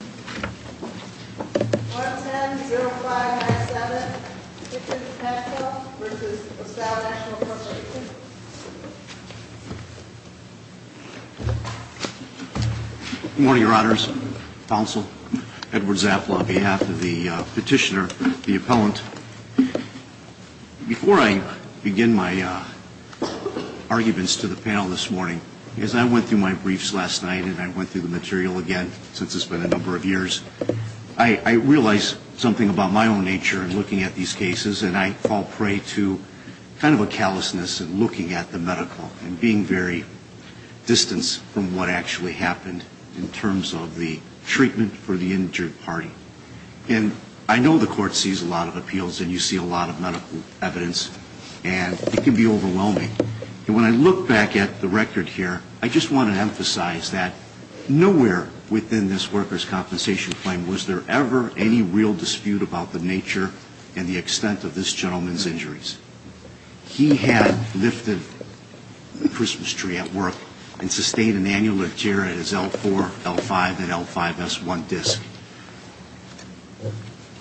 Good morning, your honors, counsel, Edward Zafla on behalf of the petitioner, the appellant. Before I begin my arguments to the panel this morning, as I went through my briefs last night and I went through the material again since it's been a number of years, I realized something about my own nature in looking at these cases and I fall prey to kind of a callousness in looking at the medical and being very distanced from what actually happened in terms of the treatment for the injured party. And I know the court sees a lot of appeals and you see a lot of medical evidence and it can be overwhelming. And when I look back at the record here, I just want to emphasize that nowhere within this workers' compensation claim was there ever any real dispute about the nature and the extent of this gentleman's injuries. He had lifted the Christmas tree at work and sustained an annular tear at his L4, L5, and L5S1 disc.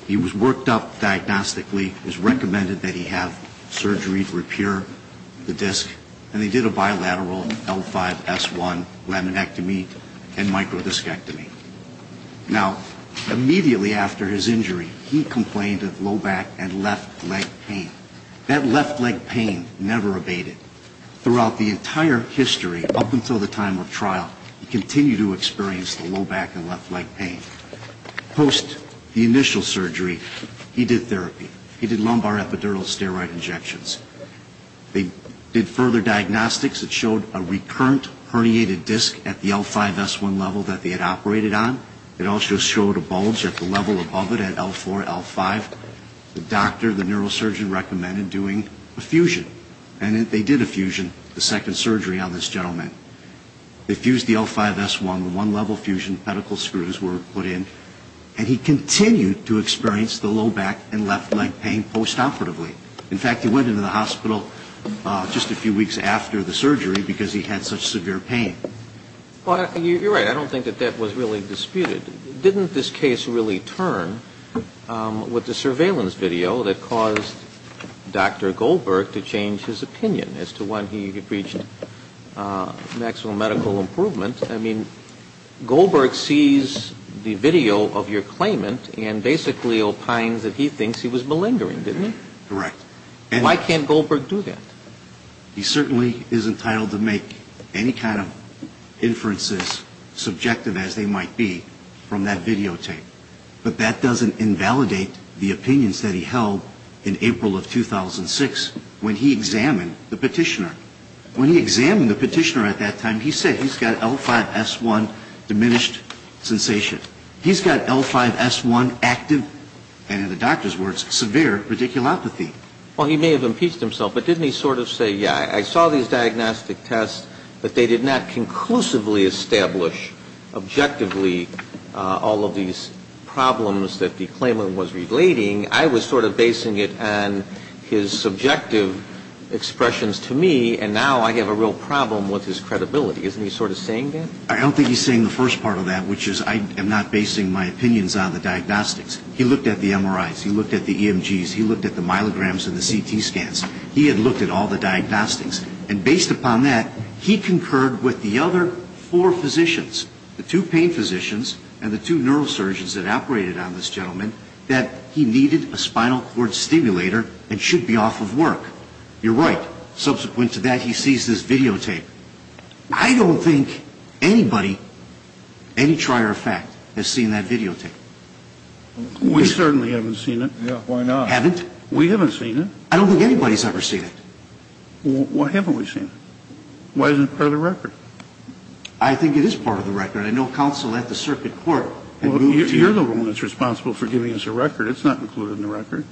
He was worked up diagnostically, it was recommended that he have surgery to L1 laminectomy and microdiscectomy. Now, immediately after his injury, he complained of low back and left leg pain. That left leg pain never abated. Throughout the entire history, up until the time of trial, he continued to experience the low back and left leg pain. Post the initial surgery, he did therapy. He did lumbar epidural steroid injections. They did further diagnostics that showed a recurrent herniated disc at the L5S1 level that they had operated on. It also showed a bulge at the level above it at L4, L5. The doctor, the neurosurgeon, recommended doing a fusion. And they did a fusion, the second surgery on this gentleman. They fused the L5S1, the one level fusion, pedicle screws were put in, and he continued to experience the low back and left leg pain postoperatively. In fact, he went into the hospital just a few weeks after the surgery because he had such severe pain. Well, you're right. I don't think that that was really disputed. Didn't this case really turn with the surveillance video that caused Dr. Goldberg to change his opinion as to when he reached maximum medical improvement? I mean, Goldberg sees the video of your claimant and basically opines that he thinks he was malingering, didn't he? Correct. Why can't Goldberg do that? He certainly is entitled to make any kind of inferences, subjective as they might be, from that videotape. But that doesn't invalidate the opinions that he held in April of 2006 when he examined the petitioner. When he examined the petitioner at that time, he said he's got L5S1 diminished sensation. He's got L5S1 active, and in the doctor's words, severe radiculopathy. Well, he may have impeached himself, but didn't he sort of say, yeah, I saw these diagnostic tests, but they did not conclusively establish objectively all of these problems that the claimant was relating. I was sort of basing it on his subjective expressions to me, and now I have a real problem with his credibility. Isn't he sort of saying that? I don't think he's saying the first part of that, which is I am not basing my opinions on the diagnostics. He looked at the MRIs. He looked at the EMGs. He looked at the myelograms and the CT scans. He had looked at all the diagnostics. And based upon that, he concurred with the other four physicians, the two pain physicians and the two neurosurgeons that operated on this gentleman, that he needed a spinal cord stimulator and should be off of work. You're right. Subsequent to that, he sees this videotape. I don't think anybody, any trier of fact, has seen that videotape. We certainly haven't seen it. Yeah. Why not? Haven't? We haven't seen it. I don't think anybody's ever seen it. Well, why haven't we seen it? Why isn't it part of the record? I think it is part of the record. I know counsel at the circuit court had moved to it. Well, you're the one that's responsible for giving us a record. It's not included in the record.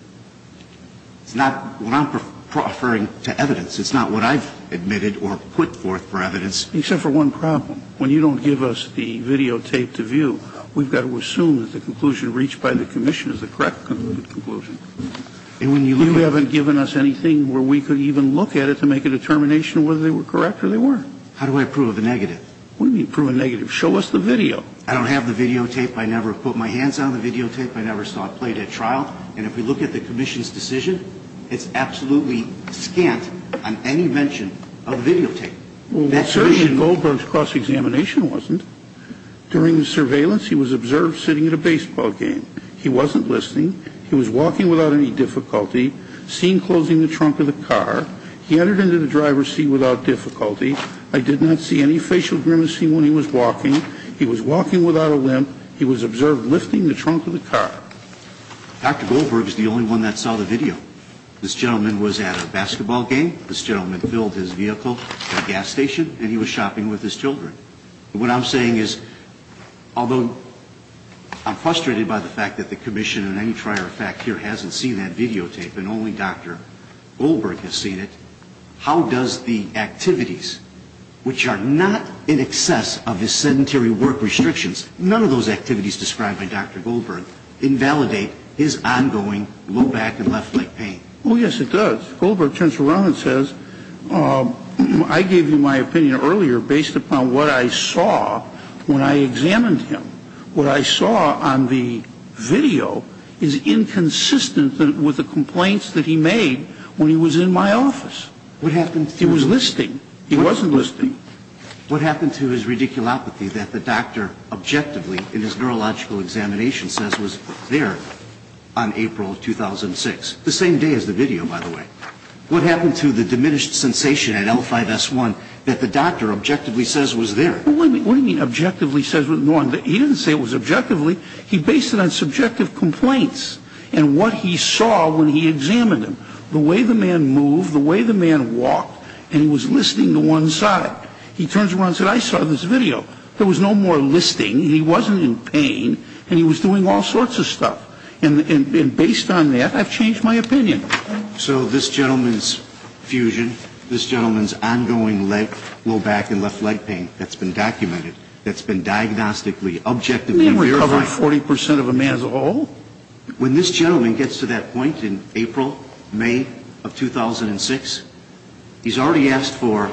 It's not what I'm offering to evidence. It's not what I've admitted or put forth for evidence. Except for one problem. When you don't give us the videotape to view, we've got to assume that the conclusion reached by the commission is the correct conclusion. And when you look at it You haven't given us anything where we could even look at it to make a determination whether they were correct or they weren't. How do I prove a negative? What do you mean prove a negative? Show us the video. I don't have the videotape. I never put my hands on the videotape. I never saw it played a trial. And if we look at the commission's decision, it's absolutely scant on any mention of videotape. Well, when Sergeant Goldberg's cross-examination wasn't, during the surveillance he was observed sitting at a baseball game. He wasn't listening. He was walking without any difficulty, seen closing the trunk of the car. He entered into the driver's seat without difficulty. I did not see any facial grimacing when he was walking. He was walking without a limp. He was observed lifting the trunk of the car. Dr. Goldberg is the only one that saw the video. This gentleman was at a basketball game. This gentleman filled his vehicle at a gas station and he was shopping with his children. What I'm saying is, although I'm frustrated by the fact that the commission in any trier of fact here hasn't seen that videotape and only Dr. Goldberg has seen it, how does the activities, which are not in excess of his sedentary work restrictions, none of those activities described by Dr. Goldberg, invalidate his ongoing low back and left leg pain? Oh, yes, it does. Goldberg turns around and says, I gave you my opinion earlier based upon what I saw when I examined him. What I saw on the video is inconsistent with the complaints that he made when he was in my office. What happened to? He was listening. He wasn't listening. What happened to his radiculopathy that the doctor objectively in his neurological examination says was there on April 2006? The same day as the video, by the way. What happened to the diminished sensation at L5S1 that the doctor objectively says was there? What do you mean objectively says was there? He didn't say it was objectively. He based it on subjective complaints and what he saw when he examined him. The way the man moved, the way the man walked, and he was listening to one side. He turns around and says, I saw this video. There was no more listening. He wasn't in pain. And he was doing all sorts of stuff. And based on that, I've changed my opinion. So this gentleman's fusion, this gentleman's ongoing low back and left leg pain that's been documented, that's been diagnostically, objectively verified. He didn't recover 40 percent of a man's old. When this gentleman gets to that point in April, May of 2006, he's already asked for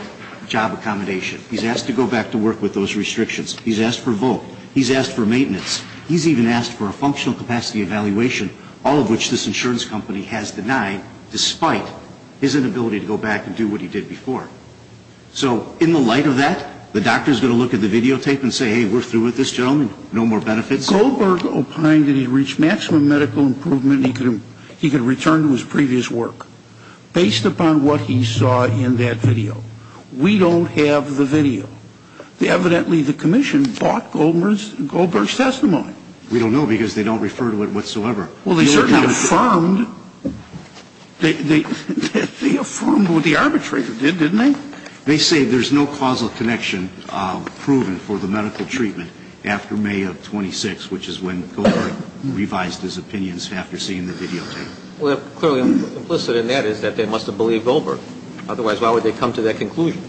job accommodation. He's asked to go back to work with those restrictions. He's asked for a vote. He's asked for maintenance. He's even asked for a functional capacity evaluation, all of which this insurance company has denied despite his inability to go back and do what he did before. So in the light of that, the doctor's going to look at the videotape and say, hey, we're through with this gentleman. No more benefits. If Goldberg opined that he reached maximum medical improvement, he could return to his previous work. Based upon what he saw in that video, we don't have the video. Evidently, the commission bought Goldberg's testimony. We don't know because they don't refer to it whatsoever. Well, they certainly affirmed. They affirmed what the arbitrator did, didn't they? They say there's no causal connection proven for the medical treatment after May of 2006, which is when Goldberg revised his opinions after seeing the videotape. Well, clearly implicit in that is that they must have believed Goldberg. Otherwise, why would they come to that conclusion?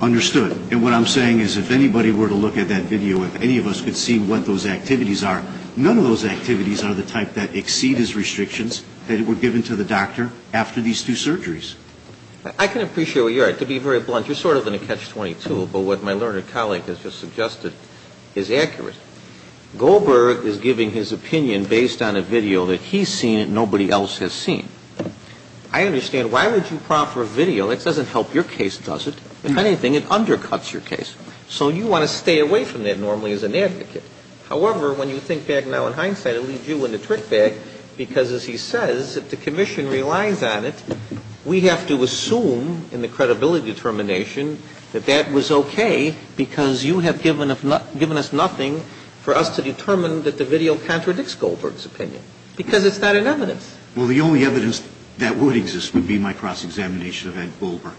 Understood. And what I'm saying is if anybody were to look at that video, if any of us could see what those activities are, none of those activities are the type that exceed his restrictions that were given to the doctor after these two surgeries. I can appreciate where you're at. To be very blunt, you're sort of in a catch-22, but what my learned colleague has just suggested is accurate. Goldberg is giving his opinion based on a video that he's seen and nobody else has seen. I understand why would you prompt for a video? It doesn't help your case, does it? If anything, it undercuts your case. So you want to stay away from that normally as an advocate. However, when you think back now in hindsight, it leaves you with a trick bag because, as he says, if the commission relies on it, we have to assume in the credibility determination that that was okay because you have given us nothing for us to determine that the video contradicts Goldberg's opinion because it's not in evidence. Well, the only evidence that would exist would be my cross-examination of Ed Goldberg.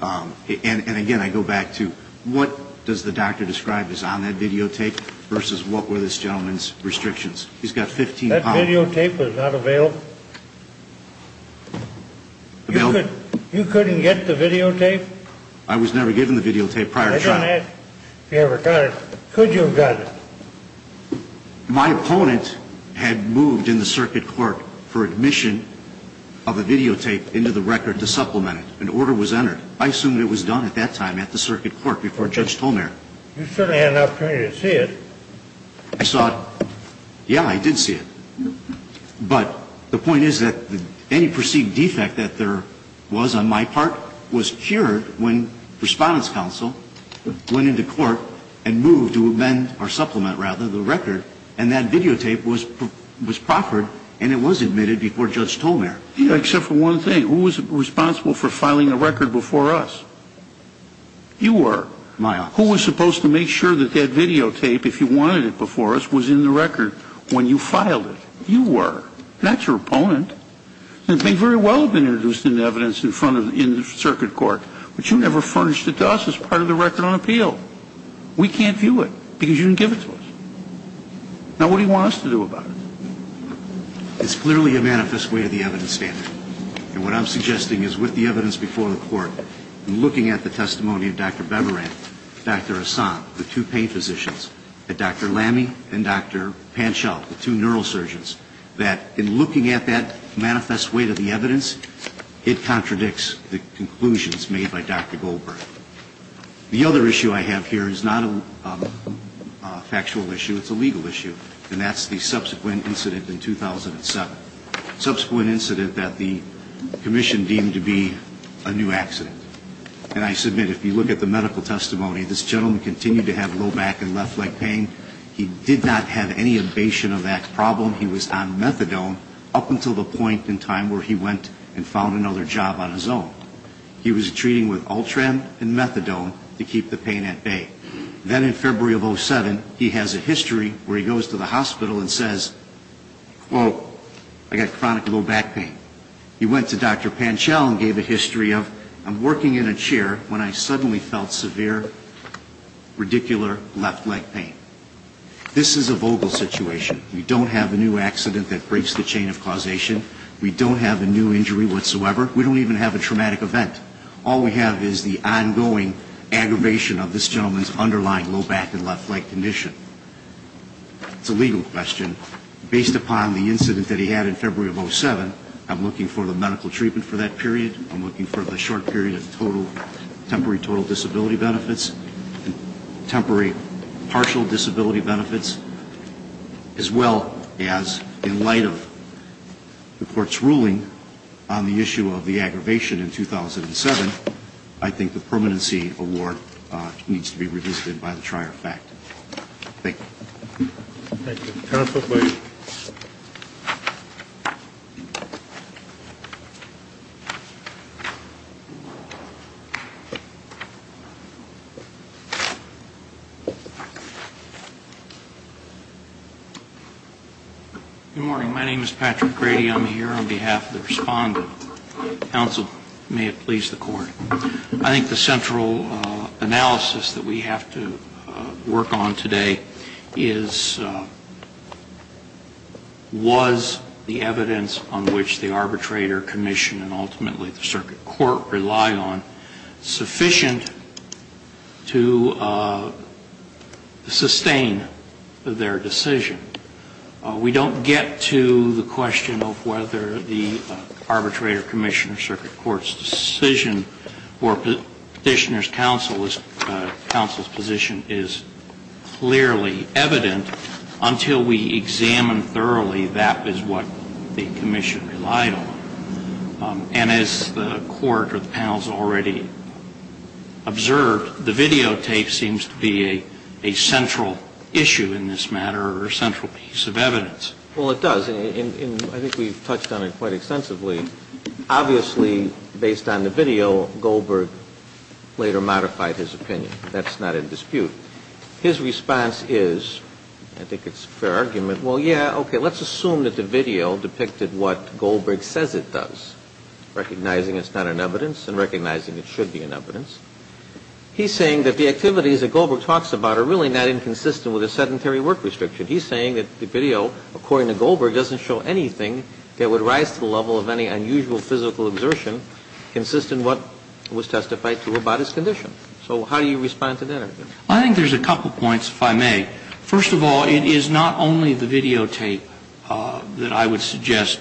And again, I go back to what does the doctor describe as on that videotape versus what were this gentleman's restrictions? He's got 15 pounds. The videotape was not available. You couldn't get the videotape? I was never given the videotape prior to trial. I don't ask if you ever got it. Could you have gotten it? My opponent had moved in the circuit court for admission of a videotape into the record to supplement it. An order was entered. I assumed it was done at that time at the circuit court before Judge Tolmere. You certainly had an opportunity to see it. I saw it. Yeah, I did see it. But the point is that any perceived defect that there was on my part was cured when Respondent's Counsel went into court and moved to amend or supplement, rather, the record. And that videotape was proffered and it was admitted before Judge Tolmere. Yeah, except for one thing. Who was responsible for filing the record before us? You were. My opponent. Who was supposed to make sure that that videotape, if you wanted it before us, was in the record when you filed it? You were. That's your opponent. It may very well have been introduced in the evidence in front of, in the circuit court, but you never furnished it to us as part of the record on appeal. We can't view it because you didn't give it to us. Now, what do you want us to do about it? It's clearly a manifest way of the evidence standard. And what I'm suggesting is with the evidence before the court and looking at the testimony of Dr. Beberan, Dr. Assam, the two pain physicians, Dr. Lamme and Dr. Panschow, the two neurosurgeons, that in looking at that manifest way to the evidence, it contradicts the conclusions made by Dr. Goldberg. The other issue I have here is not a factual issue. It's a legal issue. And that's the subsequent incident in 2007. Subsequent incident that the commission deemed to be a new accident. And I submit if you look at the medical testimony, this gentleman continued to have low back and left leg pain. He did not have any abation of that problem. He was on methadone up until the point in time where he went and found another job on his own. He was treating with Ultram and methadone to keep the pain at bay. Then in February of 2007, he has a history where he goes to the hospital and says, well, I got chronic low back pain. He went to Dr. Panschow and said, I was working in a chair when I suddenly felt severe, ridiculous left leg pain. This is a vogal situation. We don't have a new accident that breaks the chain of causation. We don't have a new injury whatsoever. We don't even have a traumatic event. All we have is the ongoing aggravation of this gentleman's underlying low back and left leg condition. It's a legal question. Based upon the incident that he had in February of 2007, I'm looking for the medical treatment for that period. I'm looking for the short period of total, temporary total disability benefits, temporary partial disability benefits, as well as in light of the Court's ruling on the issue of the aggravation in 2007, I think the permanency award needs to be revisited by the trier of fact. Thank you. Thank you. Counsel, please. Good morning. My name is Patrick Grady. I'm here on behalf of the Respondent. Counsel, may it please the Court. I think the central analysis that we have to work on today is was the evidence on which the arbitrator, commission, and ultimately the circuit court rely on sufficient to sustain their decision? We don't get to the question of whether the arbitrator, commission, or circuit court's decision or Petitioner's decision is clearly evident until we examine thoroughly that is what the commission relied on. And as the Court or the panel has already observed, the videotape seems to be a central issue in this matter or a central piece of evidence. Well, it does. And I think we've touched on it quite extensively. Obviously, based on the evidence that we've seen, the court has modified his opinion. That's not in dispute. His response is, I think it's a fair argument, well, yeah, okay, let's assume that the video depicted what Goldberg says it does, recognizing it's not in evidence and recognizing it should be in evidence. He's saying that the activities that Goldberg talks about are really not inconsistent with the sedentary work restriction. He's saying that the video, according to Goldberg, doesn't show anything that would rise to the level of any unusual physical exertion consistent with what was testified to about his condition. So how do you respond to that? I think there's a couple points, if I may. First of all, it is not only the videotape that I would suggest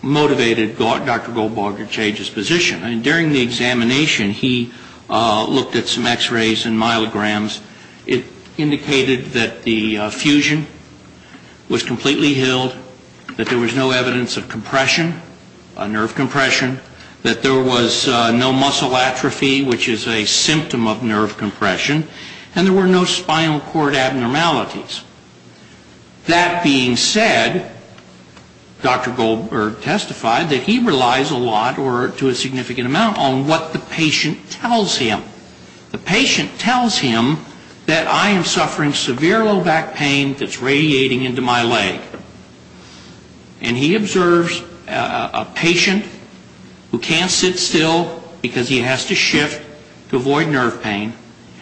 motivated Dr. Goldberg to change his position. During the examination, he looked at some x-rays and myelograms. It indicated that the fusion was consistent with what Goldberg testified to. That I was completely healed, that there was no evidence of compression, nerve compression, that there was no muscle atrophy, which is a symptom of nerve compression, and there were no spinal cord abnormalities. That being said, Dr. Goldberg testified that he relies a lot or to a significant amount on what the patient tells him. The patient tells him that I am suffering severe low back pain that's radiating into my leg. And he observes a patient who can't sit still because he has to shift to avoid nerve pain,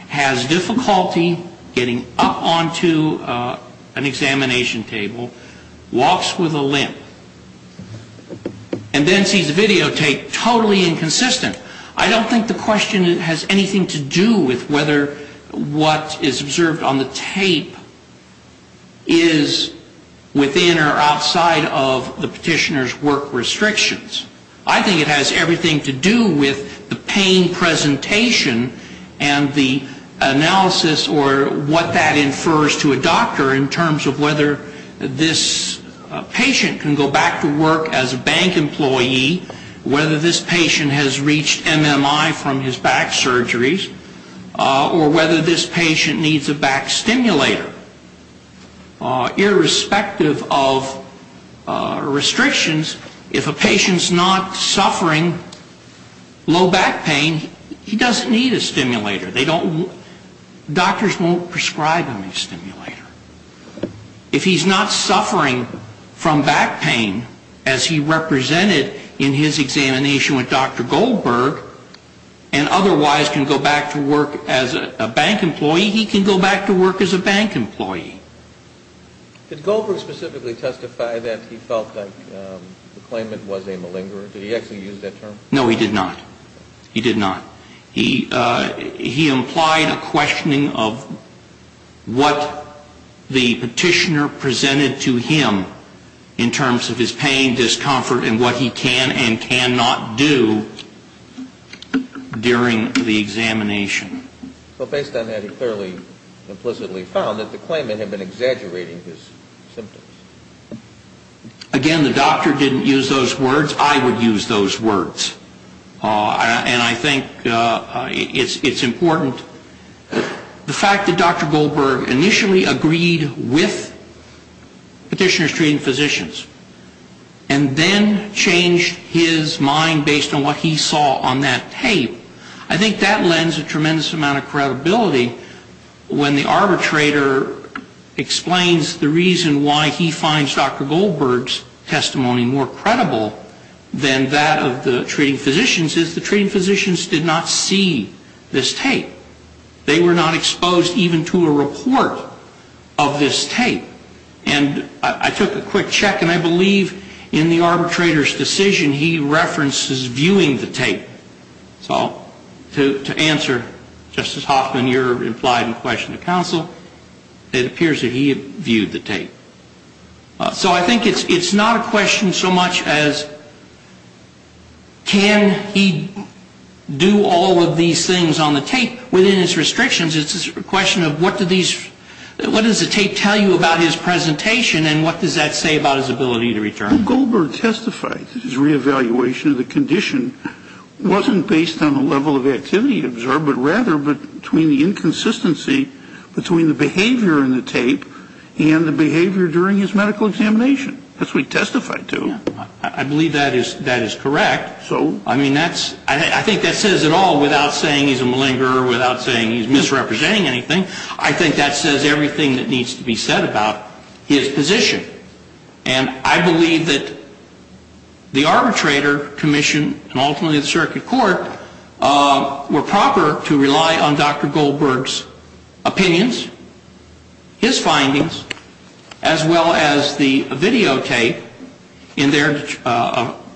has difficulty getting up onto an examination table, walks with a limp, and then sees the videotape totally inconsistent. I don't think the question has anything to do with whether what is observed on the tape is within or outside of the petitioner's work restrictions. I think it has everything to do with the pain presentation and the analysis or what that infers to a doctor in terms of whether this patient can go back to work as a bank employee, whether this patient has reached MMI from his back surgeries, or whether this patient needs a back stimulator. Irrespective of restrictions, if a patient's not suffering low back pain, he doesn't need a stimulator. Doctors won't prescribe him a stimulator. If he's not suffering from back pain, as he represented in his examination with Dr. Goldberg, and otherwise in his examination with Dr. Goldberg, and otherwise can go back to work as a bank employee, he can go back to work as a bank employee. Did Goldberg specifically testify that he felt that the claimant was a malingerer? Did he actually use that term? No, he did not. He did not. He implied a questioning of what the petitioner presented to him in terms of his pain, discomfort, and what he can and cannot do during the examination. Well, based on that, he clearly implicitly found that the claimant had been exaggerating his symptoms. Again, the doctor didn't use those words. I would use those words. And I think it's important. The fact that Dr. Goldberg testified and then changed his mind based on what he saw on that tape, I think that lends a tremendous amount of credibility when the arbitrator explains the reason why he finds Dr. Goldberg's testimony more credible than that of the treating physicians, is the treating physicians did not see this tape. They were not exposed even to a report of this case. So I think in the arbitrator's decision, he references viewing the tape. So to answer, Justice Hoffman, you're implying a question to counsel. It appears that he viewed the tape. So I think it's not a question so much as can he do all of these things on the tape. Within his restrictions, it's a question of what does the tape tell you about his presentation and what does that say about his ability to return? Well, Goldberg testified that his reevaluation of the condition wasn't based on the level of activity observed, but rather between the inconsistency between the behavior in the tape and the behavior during his medical examination. That's what he testified to. I believe that is correct. I mean, I think that says it all without saying he's a malinger, without saying he's misrepresenting anything. I think that says everything that needs to be said about his position. And I believe that the arbitrator commissioned and ultimately the circuit court were proper to rely on Dr. Goldberg's opinions, his findings, as well as the videotape in their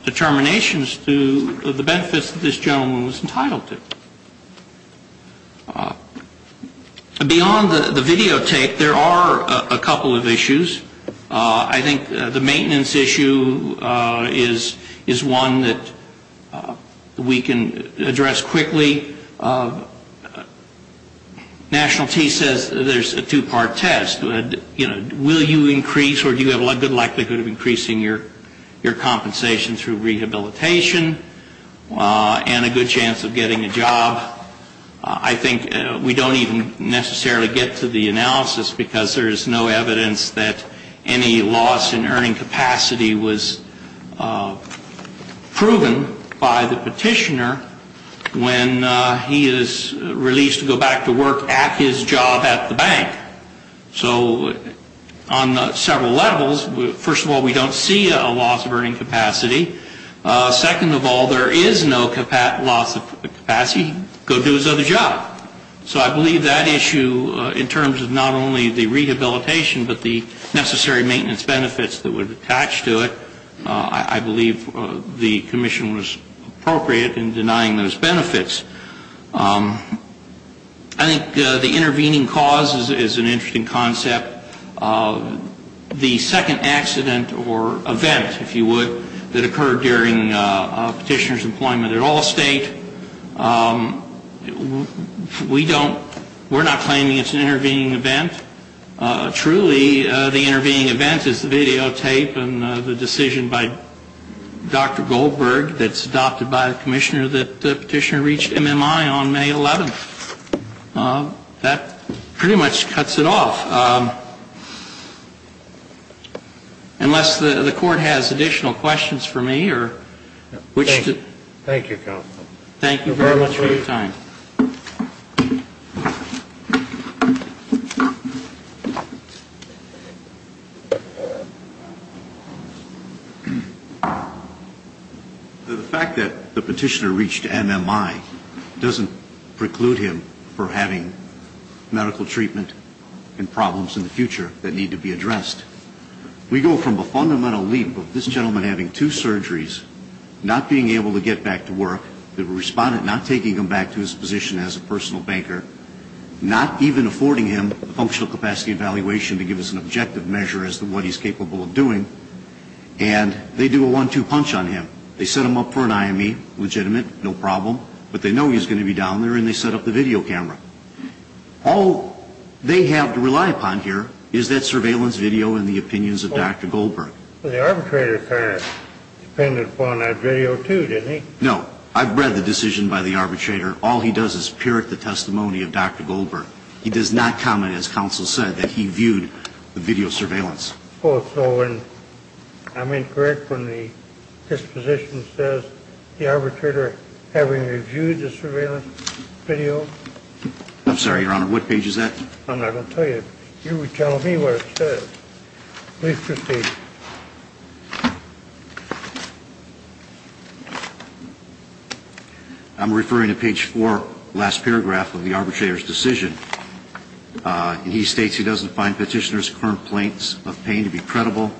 determinations to the benefits that this gentleman was entitled to. Beyond the videotape, there are a couple of issues. I think the maintenance issue is one that we can address quickly. National T says there's a two-part test. Will you increase or do you have a good likelihood of increasing your compensation through that test? Well, I think we don't even necessarily get to the analysis, because there's no evidence that any loss in earning capacity was proven by the petitioner when he is released to go back to work at his job at the bank. So on several levels, first of all, we don't see a loss of earning capacity. Second of all, there is no loss of capacity. He has a good chance of going back to work at his job at the bank. And third of all, he has a good chance of going to his other job. So I believe that issue in terms of not only the rehabilitation, but the necessary maintenance benefits that would attach to it, I believe the commission was appropriate in denying those benefits. I think the intervening cause is an interesting concept. The second accident or event, if you will, we don't, we're not claiming it's an intervening event. Truly, the intervening event is the videotape and the decision by Dr. Goldberg that's adopted by the commissioner that the petitioner reached MMI on May 11th. That pretty much cuts it off. Unless the court has additional questions for me or which to... Thank you, counsel. Thank you very much for your time. The fact that the petitioner reached MMI doesn't preclude him from having medical treatment and problems in the future that need to be addressed. We go from a fundamental leap of this gentleman having two surgeries, not being able to get back to work, the decision by Dr. Goldberg to do a one-two punch on him. They set him up for an IME, legitimate, no problem, but they know he's going to be down there and they set up the video camera. All they have to rely upon here is that surveillance video and the opinions of Dr. Goldberg. The arbitrator kind of depended upon that video too, didn't he? No. I've read the decision by the arbitrator. All they have to rely on is the testimony of Dr. Goldberg. He does not comment, as counsel said, that he viewed the video surveillance. Well, so when I'm incorrect when the disposition says the arbitrator having reviewed the surveillance video? I'm sorry, Your Honor, what page is that? I'm not going to tell you. You tell me what it says. Please proceed. I'm referring to page four of the decision by Dr. Goldberg. Page four, last paragraph of the arbitrator's decision. And he states he doesn't find petitioner's complaints of pain to be credible.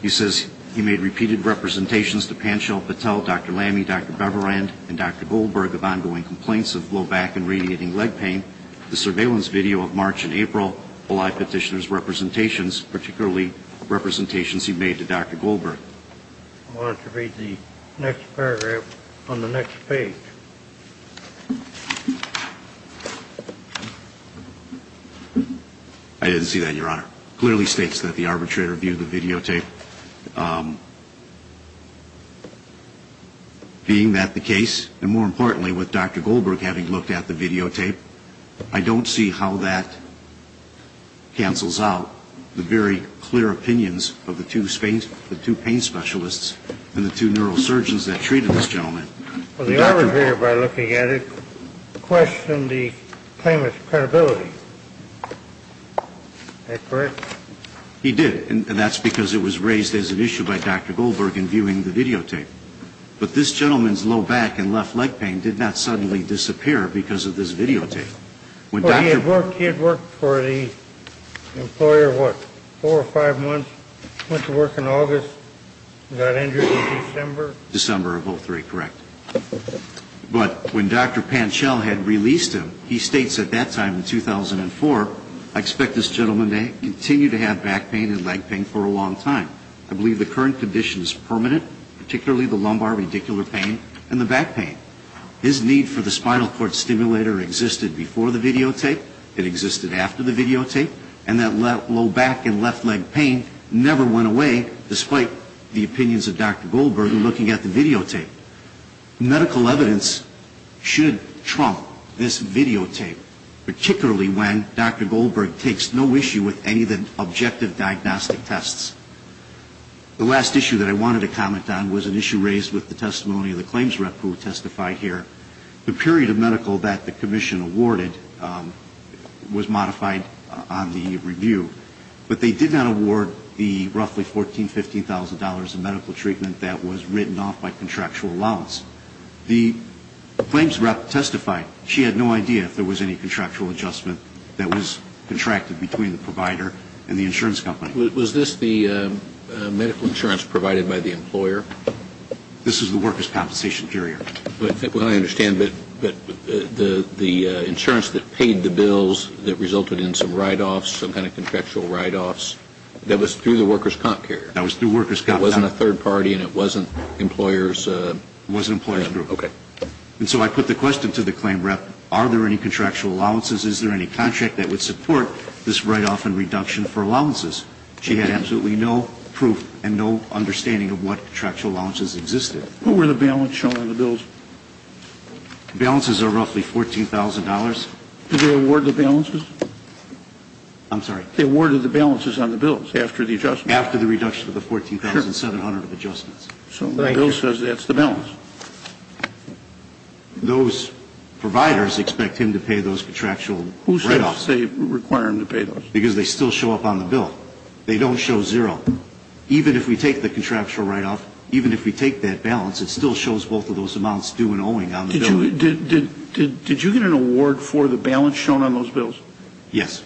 He says he made repeated representations to Panchal Patel, Dr. Lammy, Dr. Beverend, and Dr. Goldberg of ongoing complaints of low back and radiating leg pain. The surveillance video of March and April belie petitioner's representations, particularly representations he made to Dr. Goldberg. I want to read the next paragraph on the next page. I didn't see that, Your Honor. Clearly states that the arbitrator viewed the videotape. Being that the case, and more importantly, with Dr. Goldberg having looked at the videotape, I don't see how that cancels out the very clear opinions of the two pain specialists and the two neurosurgeons that treated this gentleman. Well, the arbitrator, by looking at it, questioned the claimant's credibility. Is that correct? He did. And that's because it was raised as an issue by Dr. Goldberg in viewing the videotape. But this gentleman's low back and left leg pain did not suddenly disappear because of this videotape. Well, he had worked for the employer, what, four or five months, went to work in December of 03, correct? But when Dr. Panchel had released him, he states at that time in 2004, I expect this gentleman may continue to have back pain and leg pain for a long time. I believe the current condition is permanent, particularly the lumbar radicular pain and the back pain. His need for the spinal cord stimulator existed before the videotape. It existed after the videotape. And that low back and left leg pain never went away, despite the opinions of Dr. Goldberg in looking at the videotape. Medical evidence should trump this videotape, particularly when Dr. Goldberg takes no issue with any of the objective diagnostic tests. The last issue that I wanted to comment on was an issue raised with the testimony of the claims rep who testified here. The period of medical that the commission awarded was modified on the review. But they did not award the rough evaluation. It was roughly $14,000, $15,000 of medical treatment that was written off by contractual allowance. The claims rep testified she had no idea if there was any contractual adjustment that was contracted between the provider and the insurance company. Was this the medical insurance provided by the employer? This is the workers' compensation period. Well, I understand, but the insurance that paid the bills that resulted in some write-offs, some kind of contractual write-offs, that was through workers' comp? That was through workers' comp. It wasn't a third party and it wasn't employers' group. It wasn't employers' group. And so I put the question to the claims rep, are there any contractual allowances? Is there any contract that would support this write-off and reduction for allowances? She had absolutely no proof and no understanding of what contractual allowances existed. Who were the balance shown on the bills? Balances are roughly $14,000. Did they award the balances? I'm sorry. They awarded the balances on the bills after the adjustment. After the reduction of the $14,700 of adjustments. So the bill says that's the balance. Those providers expect him to pay those contractual write-offs. Who says they require him to pay those? Because they still show up on the bill. They don't show zero. Even if we take that balance, it still shows both of those amounts due and owing on the bill. Did you get an award for the balance shown on those bills? Yes.